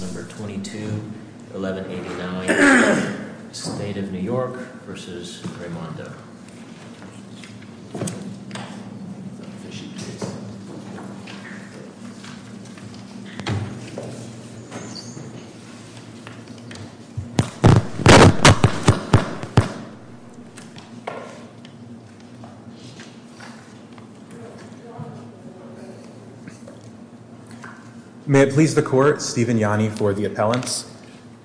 22, 1189, State of New York v. Raimondo. May it please the court, Steven Yanni for the appellants.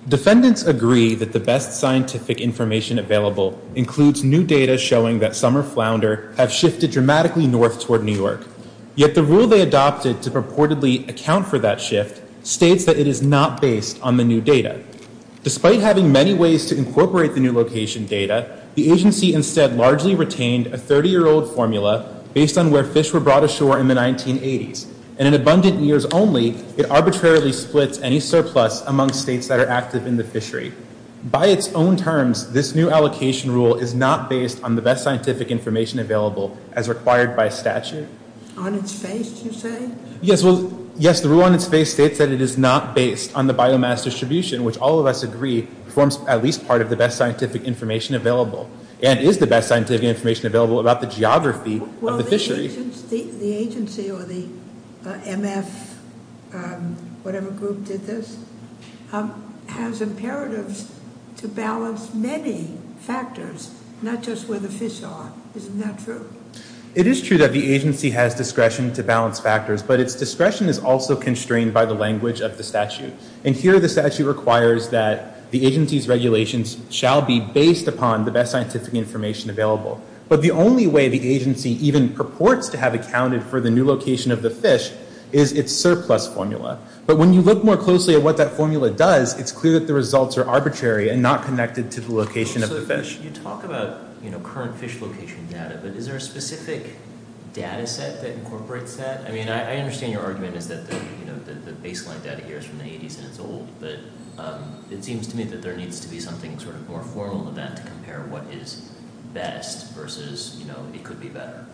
Defendants agree that the best scientific information available includes new data showing that some are flounder have shifted dramatically north toward New York. Yet the rule they adopted to purportedly account for that shift states that it is not based on the new data. Despite having many ways to incorporate the new location data, the agency instead largely retained a 30-year-old formula based on where fish were brought ashore in the 1980s. In an abundant years only, it arbitrarily splits any surplus among states that are active in the fishery. By its own terms, this new allocation rule is not based on the best scientific information available as required by statute. On its face, you say? Yes, well, yes, the rule on its face states that it is not based on the biomass distribution, which all of us agree forms at least part of the best scientific information available and is the best scientific information available about the geography of the fishery. The agency or the MF whatever group did this has imperatives to balance many factors, not just where the fish are. Isn't that true? It is true that the agency has discretion to balance factors, but its discretion is also constrained by the language of the statute. And here, the statute requires that the agency's regulations shall be based upon the best scientific information available. But the only way the agency even purports to have accounted for the new location of the fish is its surplus formula. But when you look more closely at what that formula does, it's clear that the results are arbitrary and not connected to the location of the fish. So you talk about current fish location data, but is there a specific data set that incorporates that? I mean, I understand your argument is that the baseline data here is from the 80s and it's old, but it seems to me that there needs to be something sort of more formal than that to compare what is best versus it could be better.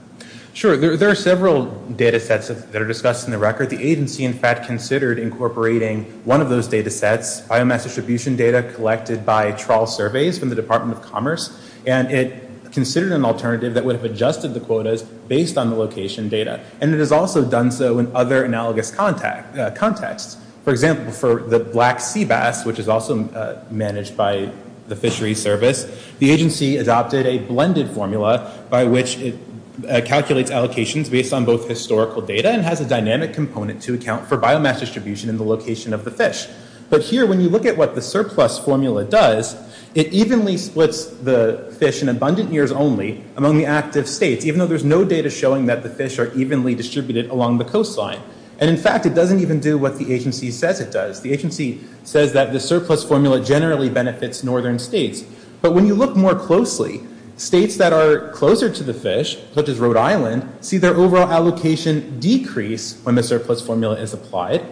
Sure, there are several data sets that are discussed in the record. The agency, in fact, considered incorporating one of those data sets, biomass distribution data collected by trawl surveys from the Department of Commerce. And it considered an alternative that would have adjusted the quotas based on the location data. And it has also done so in other analogous contexts. For example, for the black sea bass, which is also managed by the fishery service, the agency adopted a blended formula by which it calculates allocations based on both historical data and has a dynamic component to account for biomass distribution in the location of the fish. But here, when you look at what the surplus formula does, it evenly splits the fish in abundant years only among the active states, even though there's no data showing that the fish are evenly distributed along the coastline. And in fact, it doesn't even do what the agency says it does. The agency says that the surplus formula generally benefits northern states. But when you look more closely, states that are closer to the fish, such as Rhode Island, see their overall allocation decrease when the surplus formula is applied.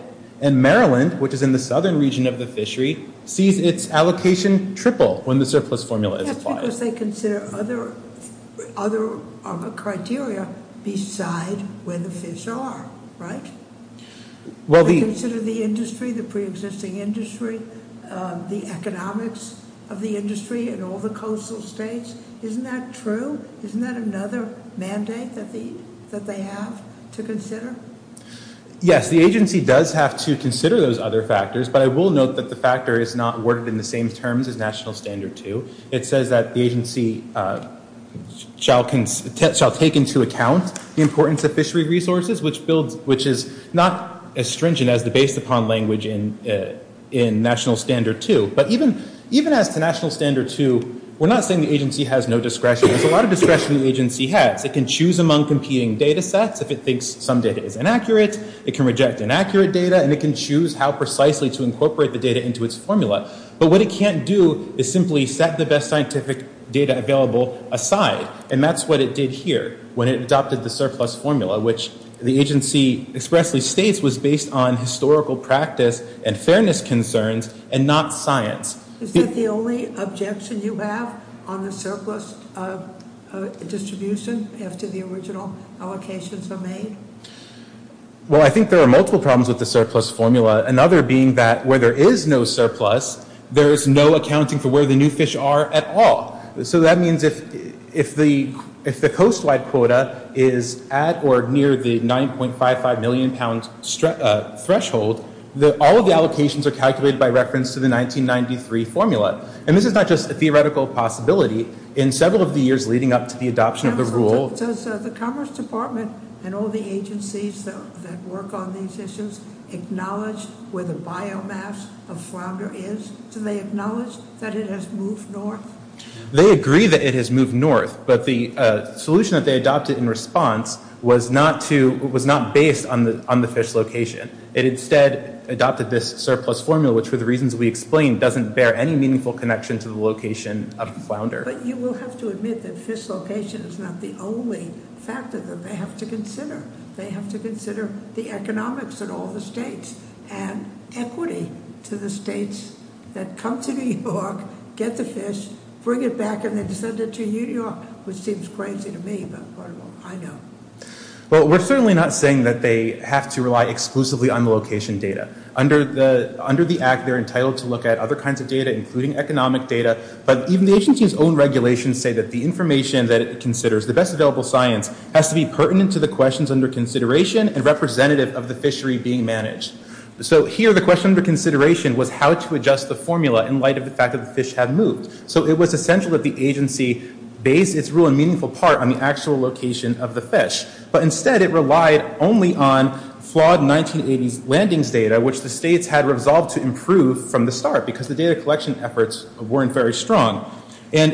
And Maryland, which is in the southern region of the fishery, sees its allocation triple when the surplus formula is applied. That's because they consider other criteria beside where the fish are, right? Well, the- They consider the industry, the preexisting industry, the economics of the industry, and all the coastal states. Isn't that true? Isn't that another mandate that they have to consider? Yes, the agency does have to consider those other factors, but I will note that the factor is not worded in the same terms as National Standard 2. It says that the agency shall take into account the importance of fishery resources, which is not as stringent as the based-upon language in National Standard 2. But even as to National Standard 2, we're not saying the agency has no discretion. There's a lot of discretion the agency has. It can choose among competing data sets if it thinks some data is inaccurate, it can reject inaccurate data, and it can choose how precisely to incorporate the data into its formula. But what it can't do is simply set the best scientific data available aside. And that's what it did here when it adopted the surplus formula, which the agency expressly states was based on historical practice and fairness concerns and not science. Is that the only objection you have on the surplus distribution after the original allocations are made? Well, I think there are multiple problems with the surplus formula, another being that where there is no surplus, there is no accounting for where the new fish are at all. So that means if the coastline quota is at or near the 9.55 million pound threshold, all of the allocations are calculated by reference to the 1993 formula. And this is not just a theoretical possibility. In several of the years leading up to the adoption of the rule- Counsel, does the Commerce Department and all the agencies that work on these issues acknowledge where the biomass of flounder is? Do they acknowledge that it has moved north? They agree that it has moved north, but the solution that they adopted in response was not based on the fish location. It instead adopted this surplus formula, which for the reasons we explained doesn't bear any meaningful connection to the location of the flounder. But you will have to admit that fish location is not the only factor that they have to consider. They have to consider the economics of all the states and equity to the states that come to New York, get the fish, bring it back, and then send it to you, New York, which seems crazy to me, but I know. Well, we're certainly not saying that they have to rely exclusively on the location data. Under the act, they're entitled to look at other kinds of data, including economic data, but even the agency's own regulations say that the information that it considers, the best available science, has to be pertinent to the questions under consideration and representative of the fishery being managed. So here, the question under consideration was how to adjust the formula in light of the fact that the fish have moved. So it was essential that the agency base its rule and meaningful part on the actual location of the fish. But instead, it relied only on flawed 1980s landings data, which the states had resolved to improve from the start because the data collection efforts weren't very strong. And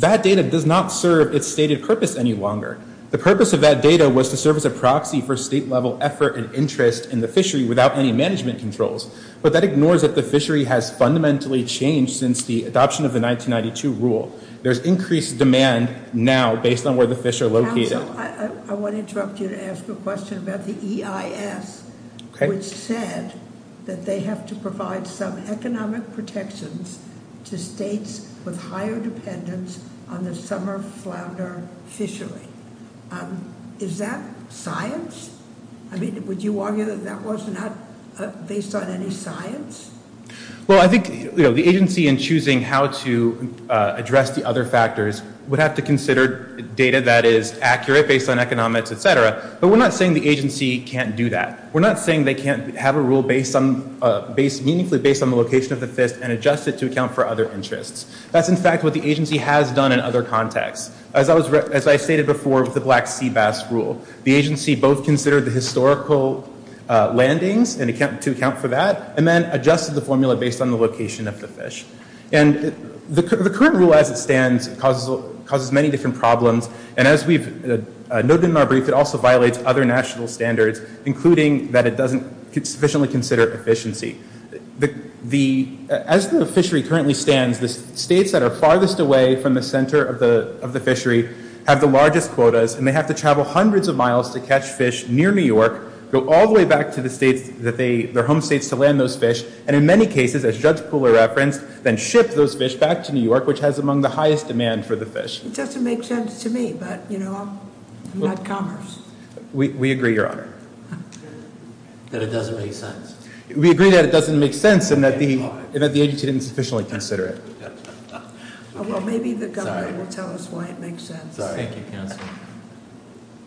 that data does not serve its stated purpose any longer. The purpose of that data was to serve as a proxy for state-level effort and interest in the fishery without any management controls. But that ignores that the fishery has fundamentally changed since the adoption of the 1992 rule. There's increased demand now based on where the fish are located. I want to interrupt you to ask a question about the EIS, which said that they have to provide some economic protections to states with higher dependence on the summer flounder fishery. Is that science? I mean, would you argue that that was not based on any science? Well, I think the agency in choosing how to address the other factors would have to consider data that is accurate based on economics, et cetera. But we're not saying the agency can't do that. We're not saying they can't have a rule meaningfully based on the location of the fish and adjust it to account for other interests. That's, in fact, what the agency has done in other contexts. As I stated before with the Black Sea Bass rule, the agency both considered the historical landings to account for that and then adjusted the formula based on the location of the fish. And the current rule as it stands causes many different problems. And as we've noted in our brief, it also violates other national standards, including that it doesn't sufficiently consider efficiency. As the fishery currently stands, the states that are farthest away from the center of the fishery have the largest quotas and they have to travel hundreds of miles to catch fish near New York, go all the way back to their home states to land those fish, and in many cases, as Judge Pooler referenced, then ship those fish back to New York, which has among the highest demand for the fish. It doesn't make sense to me, but I'm not commerce. We agree, Your Honor. That it doesn't make sense. We agree that it doesn't make sense and that the agency didn't sufficiently consider it. Well, maybe the governor will tell us why it makes sense. Sorry. Thank you, Counselor. Thank you.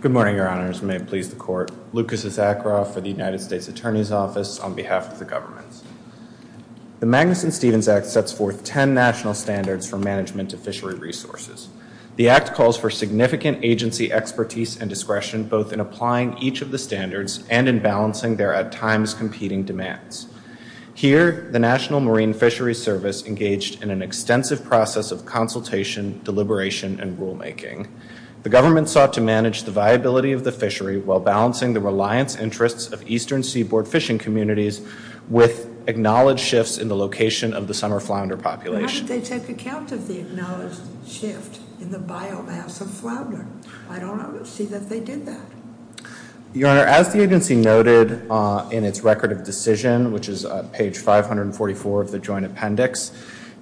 Good morning, Your Honors. May it please the court. Lucas Issacharoff for the United States Attorney's Office on behalf of the government. The Magnuson-Stevens Act sets forth 10 national standards for management of fishery resources. The act calls for significant agency expertise and discretion both in applying each of the standards and in balancing their at times competing demands. Here, the National Marine Fisheries Service engaged in an extensive process of consultation, deliberation, and rulemaking. The government sought to manage the viability of the fishery while balancing the reliance interests of eastern seaboard fishing communities with acknowledged shifts in the location of the summer flounder population. How did they take account of the acknowledged shift in the biomass of flounder? I don't see that they did that. Your Honor, as the agency noted in its record of decision, which is page 544 of the joint appendix,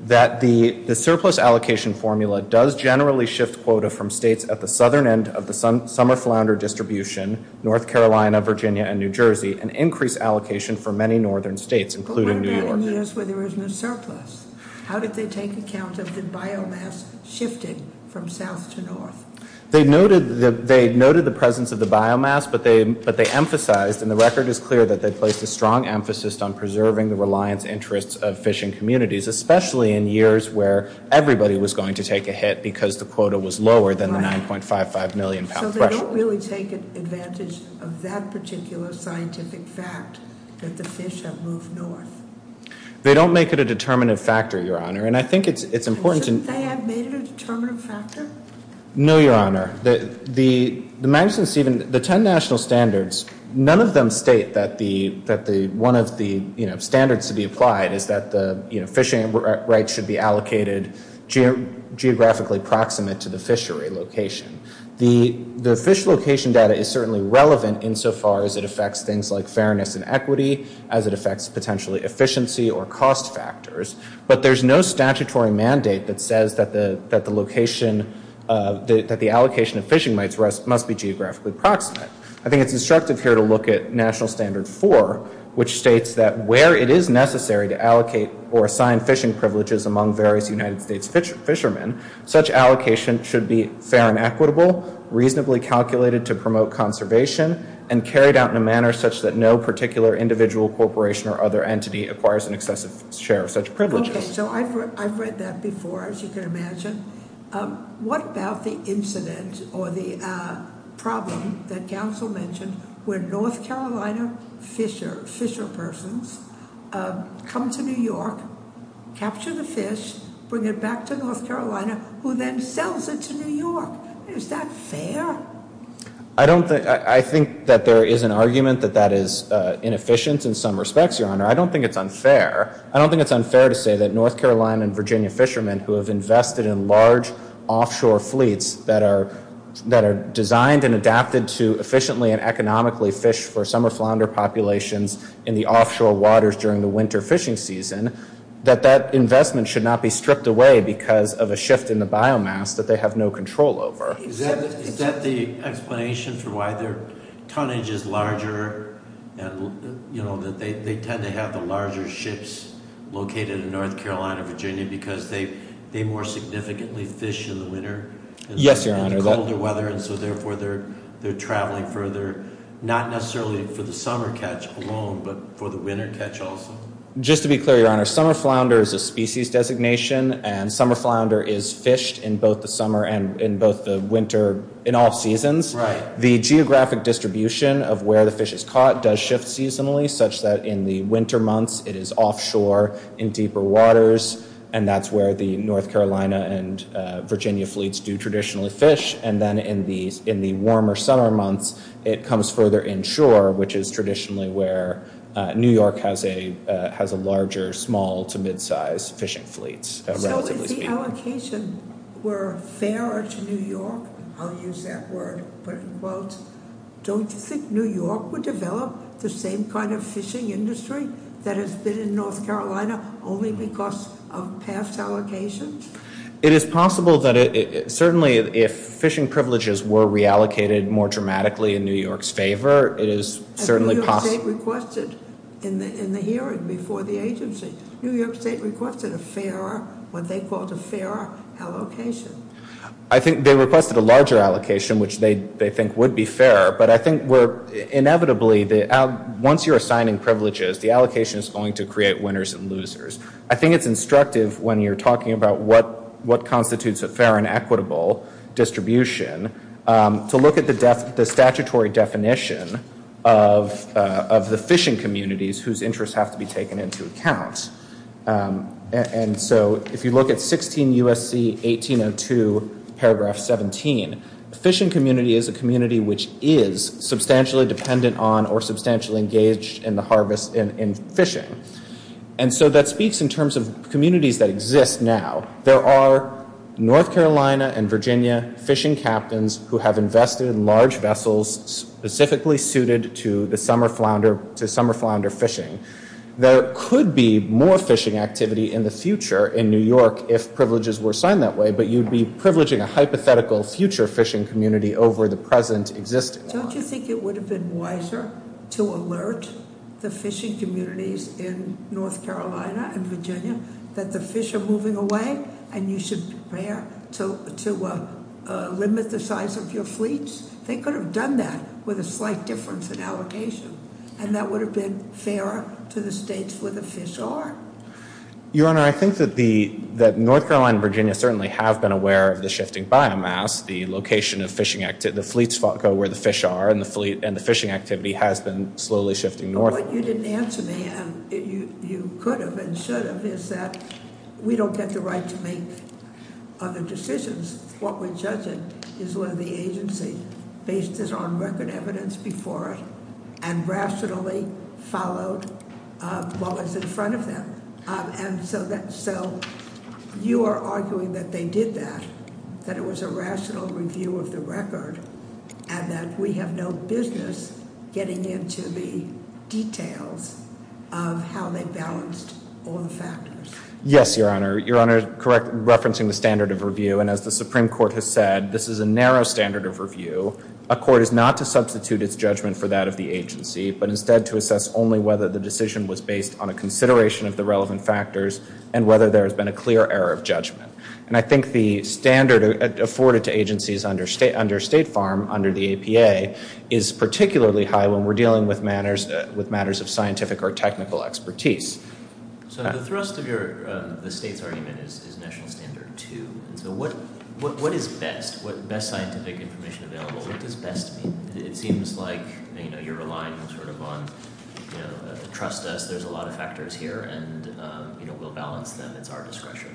that the surplus allocation formula does generally shift quota from states at the southern end of the summer flounder distribution, North Carolina, Virginia, and New Jersey, an increased allocation for many northern states, including New York. But what about in years where there was no surplus? How did they take account of the biomass shifting from south to north? They noted the presence of the biomass, but they emphasized, and the record is clear, that they placed a strong emphasis on preserving the reliance interests of fishing communities, especially in years where everybody was going to take a hit because the quota was lower than the 9.55 million pound threshold. So they don't really take advantage of that particular scientific fact that the fish have moved north. They don't make it a determinative factor, Your Honor, and I think it's important to- Shouldn't they have made it a determinative factor? No, Your Honor. The Madison-Steven, the 10 national standards, none of them state that one of the standards to be applied is that the fishing rights should be allocated geographically proximate to the fishery location. The fish location data is certainly relevant insofar as it affects things like fairness and equity, as it affects potentially efficiency or cost factors, but there's no statutory mandate that says that the allocation of fishing rights must be geographically proximate. I think it's instructive here to look at national standard four, which states that where it is necessary to allocate or assign fishing privileges among various United States fishermen, such allocation should be fair and equitable, reasonably calculated to promote conservation, and carried out in a manner such that no particular individual corporation or other entity acquires an excessive share of such privileges. Okay, so I've read that before, as you can imagine. What about the incident or the problem that counsel mentioned, where North Carolina fisher persons come to New York, capture the fish, bring it back to North Carolina, who then sells it to New York? Is that fair? I don't think, I think that there is an argument that that is inefficient in some respects, Your Honor. I don't think it's unfair. I don't think it's unfair to say that North Carolina and Virginia fishermen who have invested in large offshore fleets that are designed and adapted to efficiently and economically fish for summer flounder populations in the offshore waters during the winter fishing season, that that investment should not be stripped away because of a shift in the biomass that they have no control over. Is that the explanation for why their tonnage is larger, and that they tend to have the larger ships located in North Carolina, Virginia, because they more significantly fish in the winter in the colder weather, and so therefore they're traveling further, not necessarily for the summer catch alone, but for the winter catch also? Just to be clear, Your Honor, summer flounder is a species designation, and summer flounder is fished in both the summer and in both the winter, in all seasons. The geographic distribution of where the fish is caught does shift seasonally, such that in the winter months, it is offshore in deeper waters, and that's where the North Carolina and Virginia fleets do traditionally fish, and then in the warmer summer months, it comes further inshore, which is traditionally where New York has a larger small to mid-size fishing fleets. So if the allocation were fairer to New York, I'll use that word, put it in quotes, don't you think New York would develop the same kind of fishing industry that has been in North Carolina only because of past allocations? It is possible that it, certainly if fishing privileges were reallocated more dramatically in New York's favor, it is certainly possible. And New York State requested, New York State requested a fairer, what they called a fairer allocation. I think they requested a larger allocation, which they think would be fairer, but I think we're inevitably, once you're assigning privileges, the allocation is going to create winners and losers. I think it's instructive when you're talking about what constitutes a fair and equitable distribution to look at the statutory definition of the fishing communities whose interests have to be taken into account. And so if you look at 16 U.S.C. 1802, paragraph 17, the fishing community is a community which is substantially dependent on or substantially engaged in the harvest in fishing. And so that speaks in terms of communities that exist now. There are North Carolina and Virginia fishing captains who have invested in large vessels specifically suited to the summer flounder fishing. There could be more fishing activity in the future in New York if privileges were assigned that way, but you'd be privileging a hypothetical future fishing community over the present existing. Don't you think it would have been wiser to alert the fishing communities in North Carolina and Virginia that the fish are moving away and you should prepare to limit the size of your fleets? They could have done that with a slight difference in allocation. And that would have been fairer to the states where the fish are. Your Honor, I think that North Carolina and Virginia certainly have been aware of the shifting biomass, the location of fishing, the fleets go where the fish are, and the fishing activity has been slowly shifting north. What you didn't answer me, and you could have and should have, is that we don't get the right to make other decisions. What we're judging is whether the agency based its own record evidence before it and rationally followed what was in front of them. And so you are arguing that they did that, that it was a rational review of the record, and that we have no business getting into the details of how they balanced all the factors. Yes, Your Honor. Your Honor, correct, referencing the standard of review, and as the Supreme Court has said, this is a narrow standard of review. A court is not to substitute its judgment for that of the agency, but instead to assess only whether the decision was based on a consideration of the relevant factors and whether there has been a clear error of judgment. And I think the standard afforded to agencies under State Farm, under the APA, is particularly high when we're dealing with matters of scientific or technical expertise. So the thrust of the state's argument is national standard two, and so what is best, what best scientific information available, what does best mean? It seems like, you know, you're relying sort of on, you know, trust us, there's a lot of factors here, and, you know, we'll balance them, it's our discretion.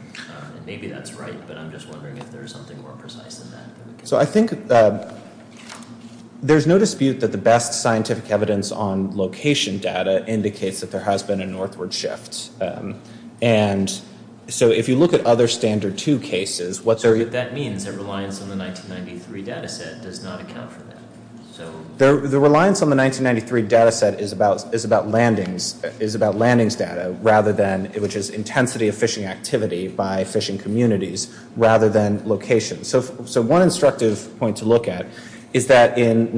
And maybe that's right, but I'm just wondering if there's something more precise than that. So I think there's no dispute that the best scientific evidence on location data indicates that there has been a northward shift. And so if you look at other standard two cases, what's our- That means that reliance on the 1993 data set does not account for that, so- The reliance on the 1993 data set is about landings, is about landings data, rather than, which is intensity of fishing activity by fishing communities, rather than location. So one instructive point to look at is that between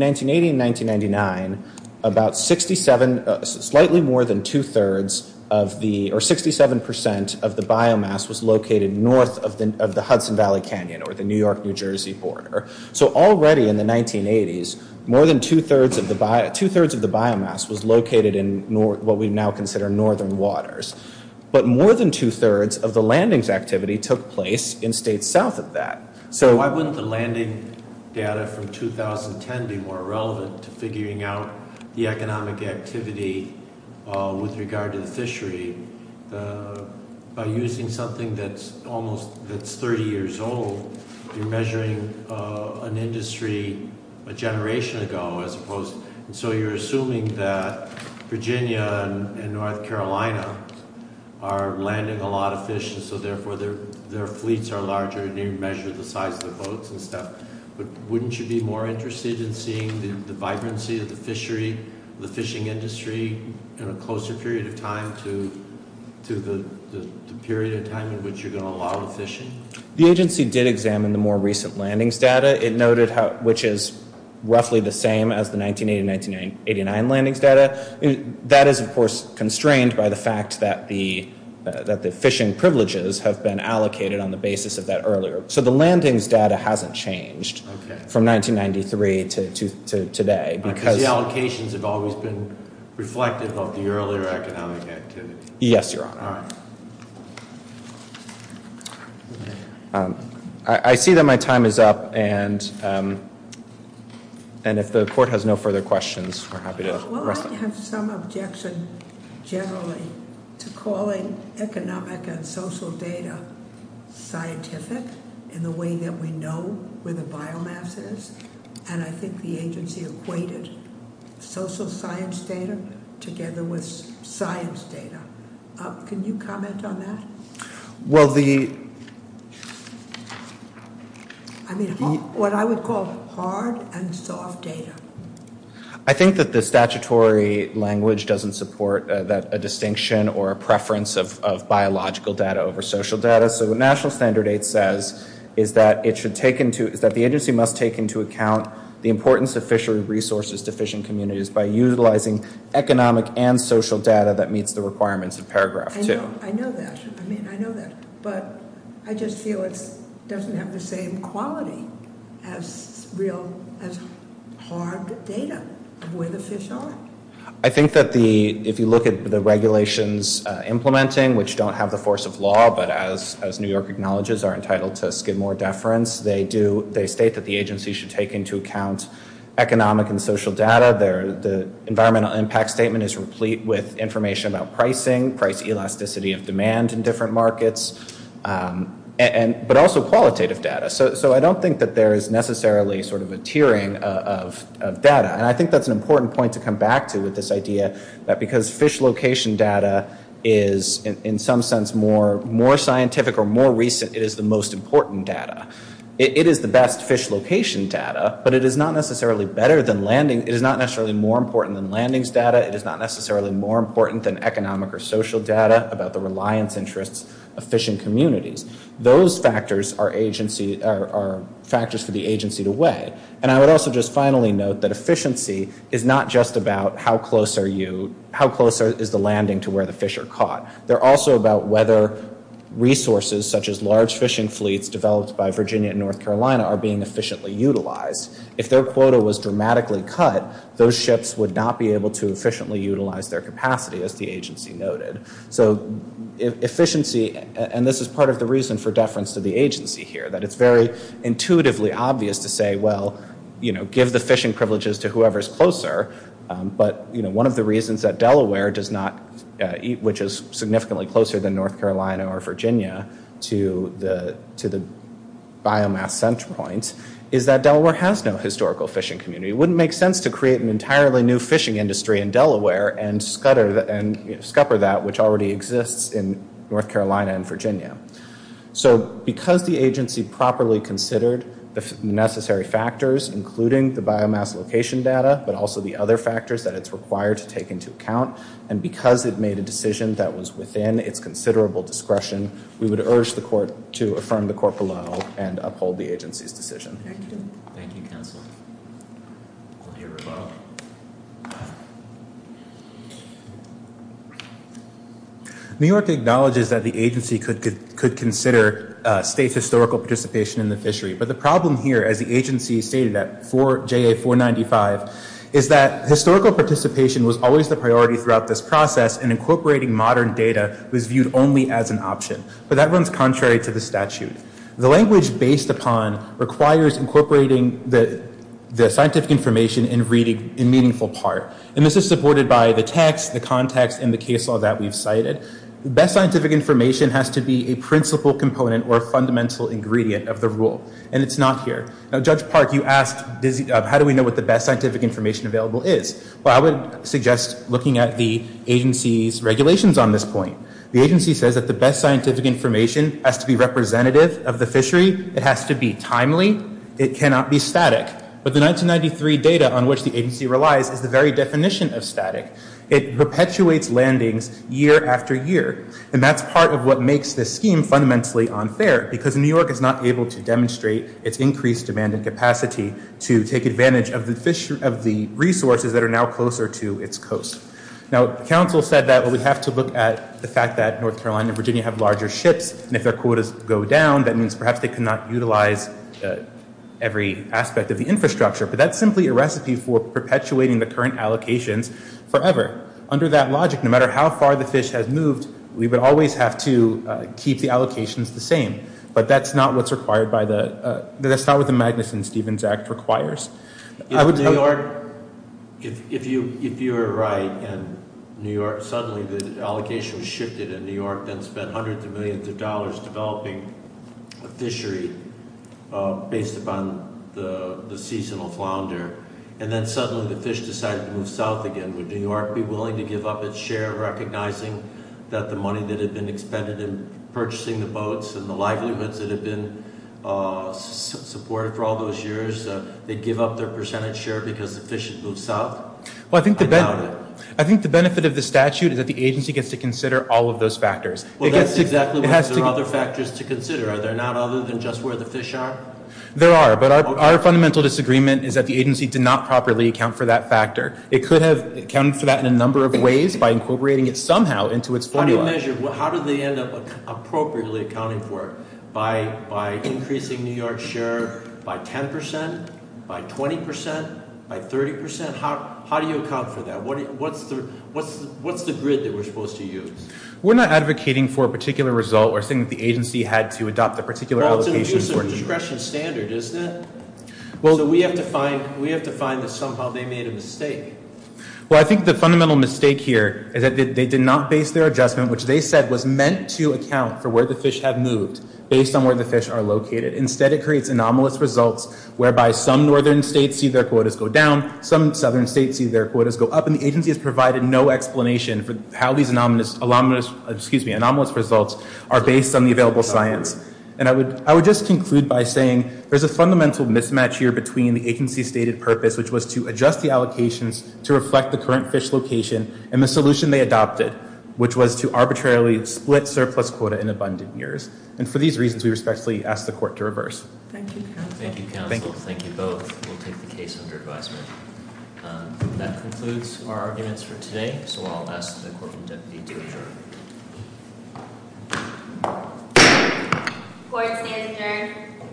1980 and 1999, about 67, slightly more than two-thirds of the, or 67% of the biomass was located north of the Hudson Valley Canyon, or the New York, New Jersey border. So already in the 1980s, more than two-thirds of the, two-thirds of the biomass was located in what we now consider northern waters. But more than two-thirds of the landings activity took place in states south of that. So- Why wouldn't the landing data from 2010 be more relevant to figuring out the economic activity with regard to the fishery? By using something that's almost, that's 30 years old, you're measuring an industry a generation ago, as opposed, and so you're assuming that Virginia and North Carolina are landing a lot of fish, and so therefore their fleets are larger, and you measure the size of the boats and stuff. But wouldn't you be more interested in seeing the vibrancy of the fishery, the fishing industry, in a closer period of time to the period of time in which you're gonna allow the fishing? The agency did examine the more recent landings data. It noted which is roughly the same as the 1980-1989 landings data. That is, of course, constrained by the fact that the fishing privileges have been allocated on the basis of that earlier. So the landings data hasn't changed from 1993 to today. Because the allocations have always been reflective of the earlier economic activity. Yes, Your Honor. I see that my time is up, and if the court has no further questions, we're happy to rest. Well, I have some objection, generally, to calling economic and social data scientific in the way that we know where the biomass is, and I think the agency equated social science data together with science data. Can you comment on that? Well, the... I mean, what I would call hard and soft data. I think that the statutory language doesn't support a distinction or a preference of biological data over social data. So what National Standard Eight says is that the agency must take into account the importance of fishery resources to fishing communities by utilizing economic and social data that meets the requirements of paragraph two. I know that. I mean, I know that, but I just feel it doesn't have the same quality as real, as hard data of where the fish are. I think that if you look at the regulations implementing, which don't have the force of law, but as New York acknowledges, are entitled to skim more deference, they state that the agency should take into account economic and social data. The environmental impact statement is replete with information about pricing, price elasticity of demand in different markets, but also qualitative data. So I don't think that there is necessarily sort of a tiering of data. And I think that's an important point to come back to with this idea that because fish location data is in some sense more scientific or more recent, it is the most important data. It is the best fish location data, but it is not necessarily better than landing. It is not necessarily more important than landings data. It is not necessarily more important than economic or social data about the reliance interests of fishing communities. Those factors are factors for the agency to weigh. And I would also just finally note that efficiency is not just about how close are you, how close is the landing to where the fish are caught. They're also about whether resources such as large fishing fleets developed by Virginia and North Carolina are being efficiently utilized. If their quota was dramatically cut, those ships would not be able to efficiently utilize their capacity as the agency noted. So efficiency, and this is part of the reason for deference to the agency here, that it's very intuitively obvious to say, well, give the fishing privileges to whoever's closer. But one of the reasons that Delaware does not, which is significantly closer than North Carolina or Virginia to the biomass center point, is that Delaware has no historical fishing community. Wouldn't make sense to create an entirely new fishing industry in Delaware and scupper that, which already exists in North Carolina and Virginia. So because the agency properly considered the necessary factors, including the biomass location data, but also the other factors that it's required to take into account, and because it made a decision that was within its considerable discretion, we would urge the court to affirm the court below and uphold the agency's decision. Thank you. Thank you, counsel. Courtier Rebo. New York acknowledges that the agency could consider state historical participation in the fishery, but the problem here, as the agency stated at JA-495, is that historical participation was always the priority throughout this process, and incorporating modern data was viewed only as an option. But that runs contrary to the statute. The language based upon requires incorporating the scientific information in meaningful part. And this is supported by the text, the context, and the case law that we've cited. The best scientific information has to be a principal component or a fundamental ingredient of the rule, and it's not here. Now, Judge Park, you asked, how do we know what the best scientific information available is? Well, I would suggest looking at the agency's regulations on this point. The agency says that the best scientific information has to be representative of the fishery. It has to be timely. It cannot be static. But the 1993 data on which the agency relies is the very definition of static. It perpetuates landings year after year, and that's part of what makes this scheme fundamentally unfair, because New York is not able to demonstrate its increased demand and capacity to take advantage of the resources that are now closer to its coast. Now, counsel said that we have to look at the fact that North Carolina and Virginia have larger ships, and if their quotas go down, that means perhaps they cannot utilize every aspect of the infrastructure, but that's simply a recipe for perpetuating the current allocations forever. Under that logic, no matter how far the fish has moved, we would always have to keep the allocations the same, but that's not what's required by the, that's not what the Magnuson-Stevens Act requires. I would tell you- If New York, if you are right, and New York, suddenly the allocation was shifted and New York then spent hundreds of millions of dollars developing a fishery based upon the seasonal flounder, and then suddenly the fish decided to move south again, would New York be willing to give up its share recognizing that the money that had been expended in purchasing the boats and the livelihoods that had been supported for all those years, they'd give up their percentage share because the fish had moved south? I doubt it. I think the benefit of the statute is that the agency gets to consider all of those factors. It gets to- Well, that's exactly what, there are other factors to consider, are there not, other than just where the fish are? There are, but our fundamental disagreement is that the agency did not properly account for that factor. It could have accounted for that in a number of ways by incorporating it somehow into its formula. How do you measure, how do they end up appropriately accounting for it? By increasing New York's share by 10%, by 20%, by 30%? How do you account for that? What's the grid that we're supposed to use? We're not advocating for a particular result or saying that the agency had to adopt a particular allocation for- Well, it's an abuse of discretion standard, isn't it? Well- So we have to find, we have to find that somehow they made a mistake. Well, I think the fundamental mistake here is that they did not base their adjustment, which they said was meant to account for where the fish have moved, based on where the fish are located. Instead, it creates anomalous results whereby some northern states see their quotas go down, some southern states see their quotas go up, and the agency has provided no explanation for how these anomalous results are based on the available science. And I would just conclude by saying there's a fundamental mismatch here between the agency's stated purpose, which was to adjust the allocations to reflect the current fish location and the solution they adopted, which was to arbitrarily split surplus quota in abundant years. And for these reasons, we respectfully ask the court to reverse. Thank you. Thank you, counsel. Thank you both. We'll take the case under advisement. That concludes our arguments for today. So I'll ask the court and deputy to adjourn. Court stands adjourned.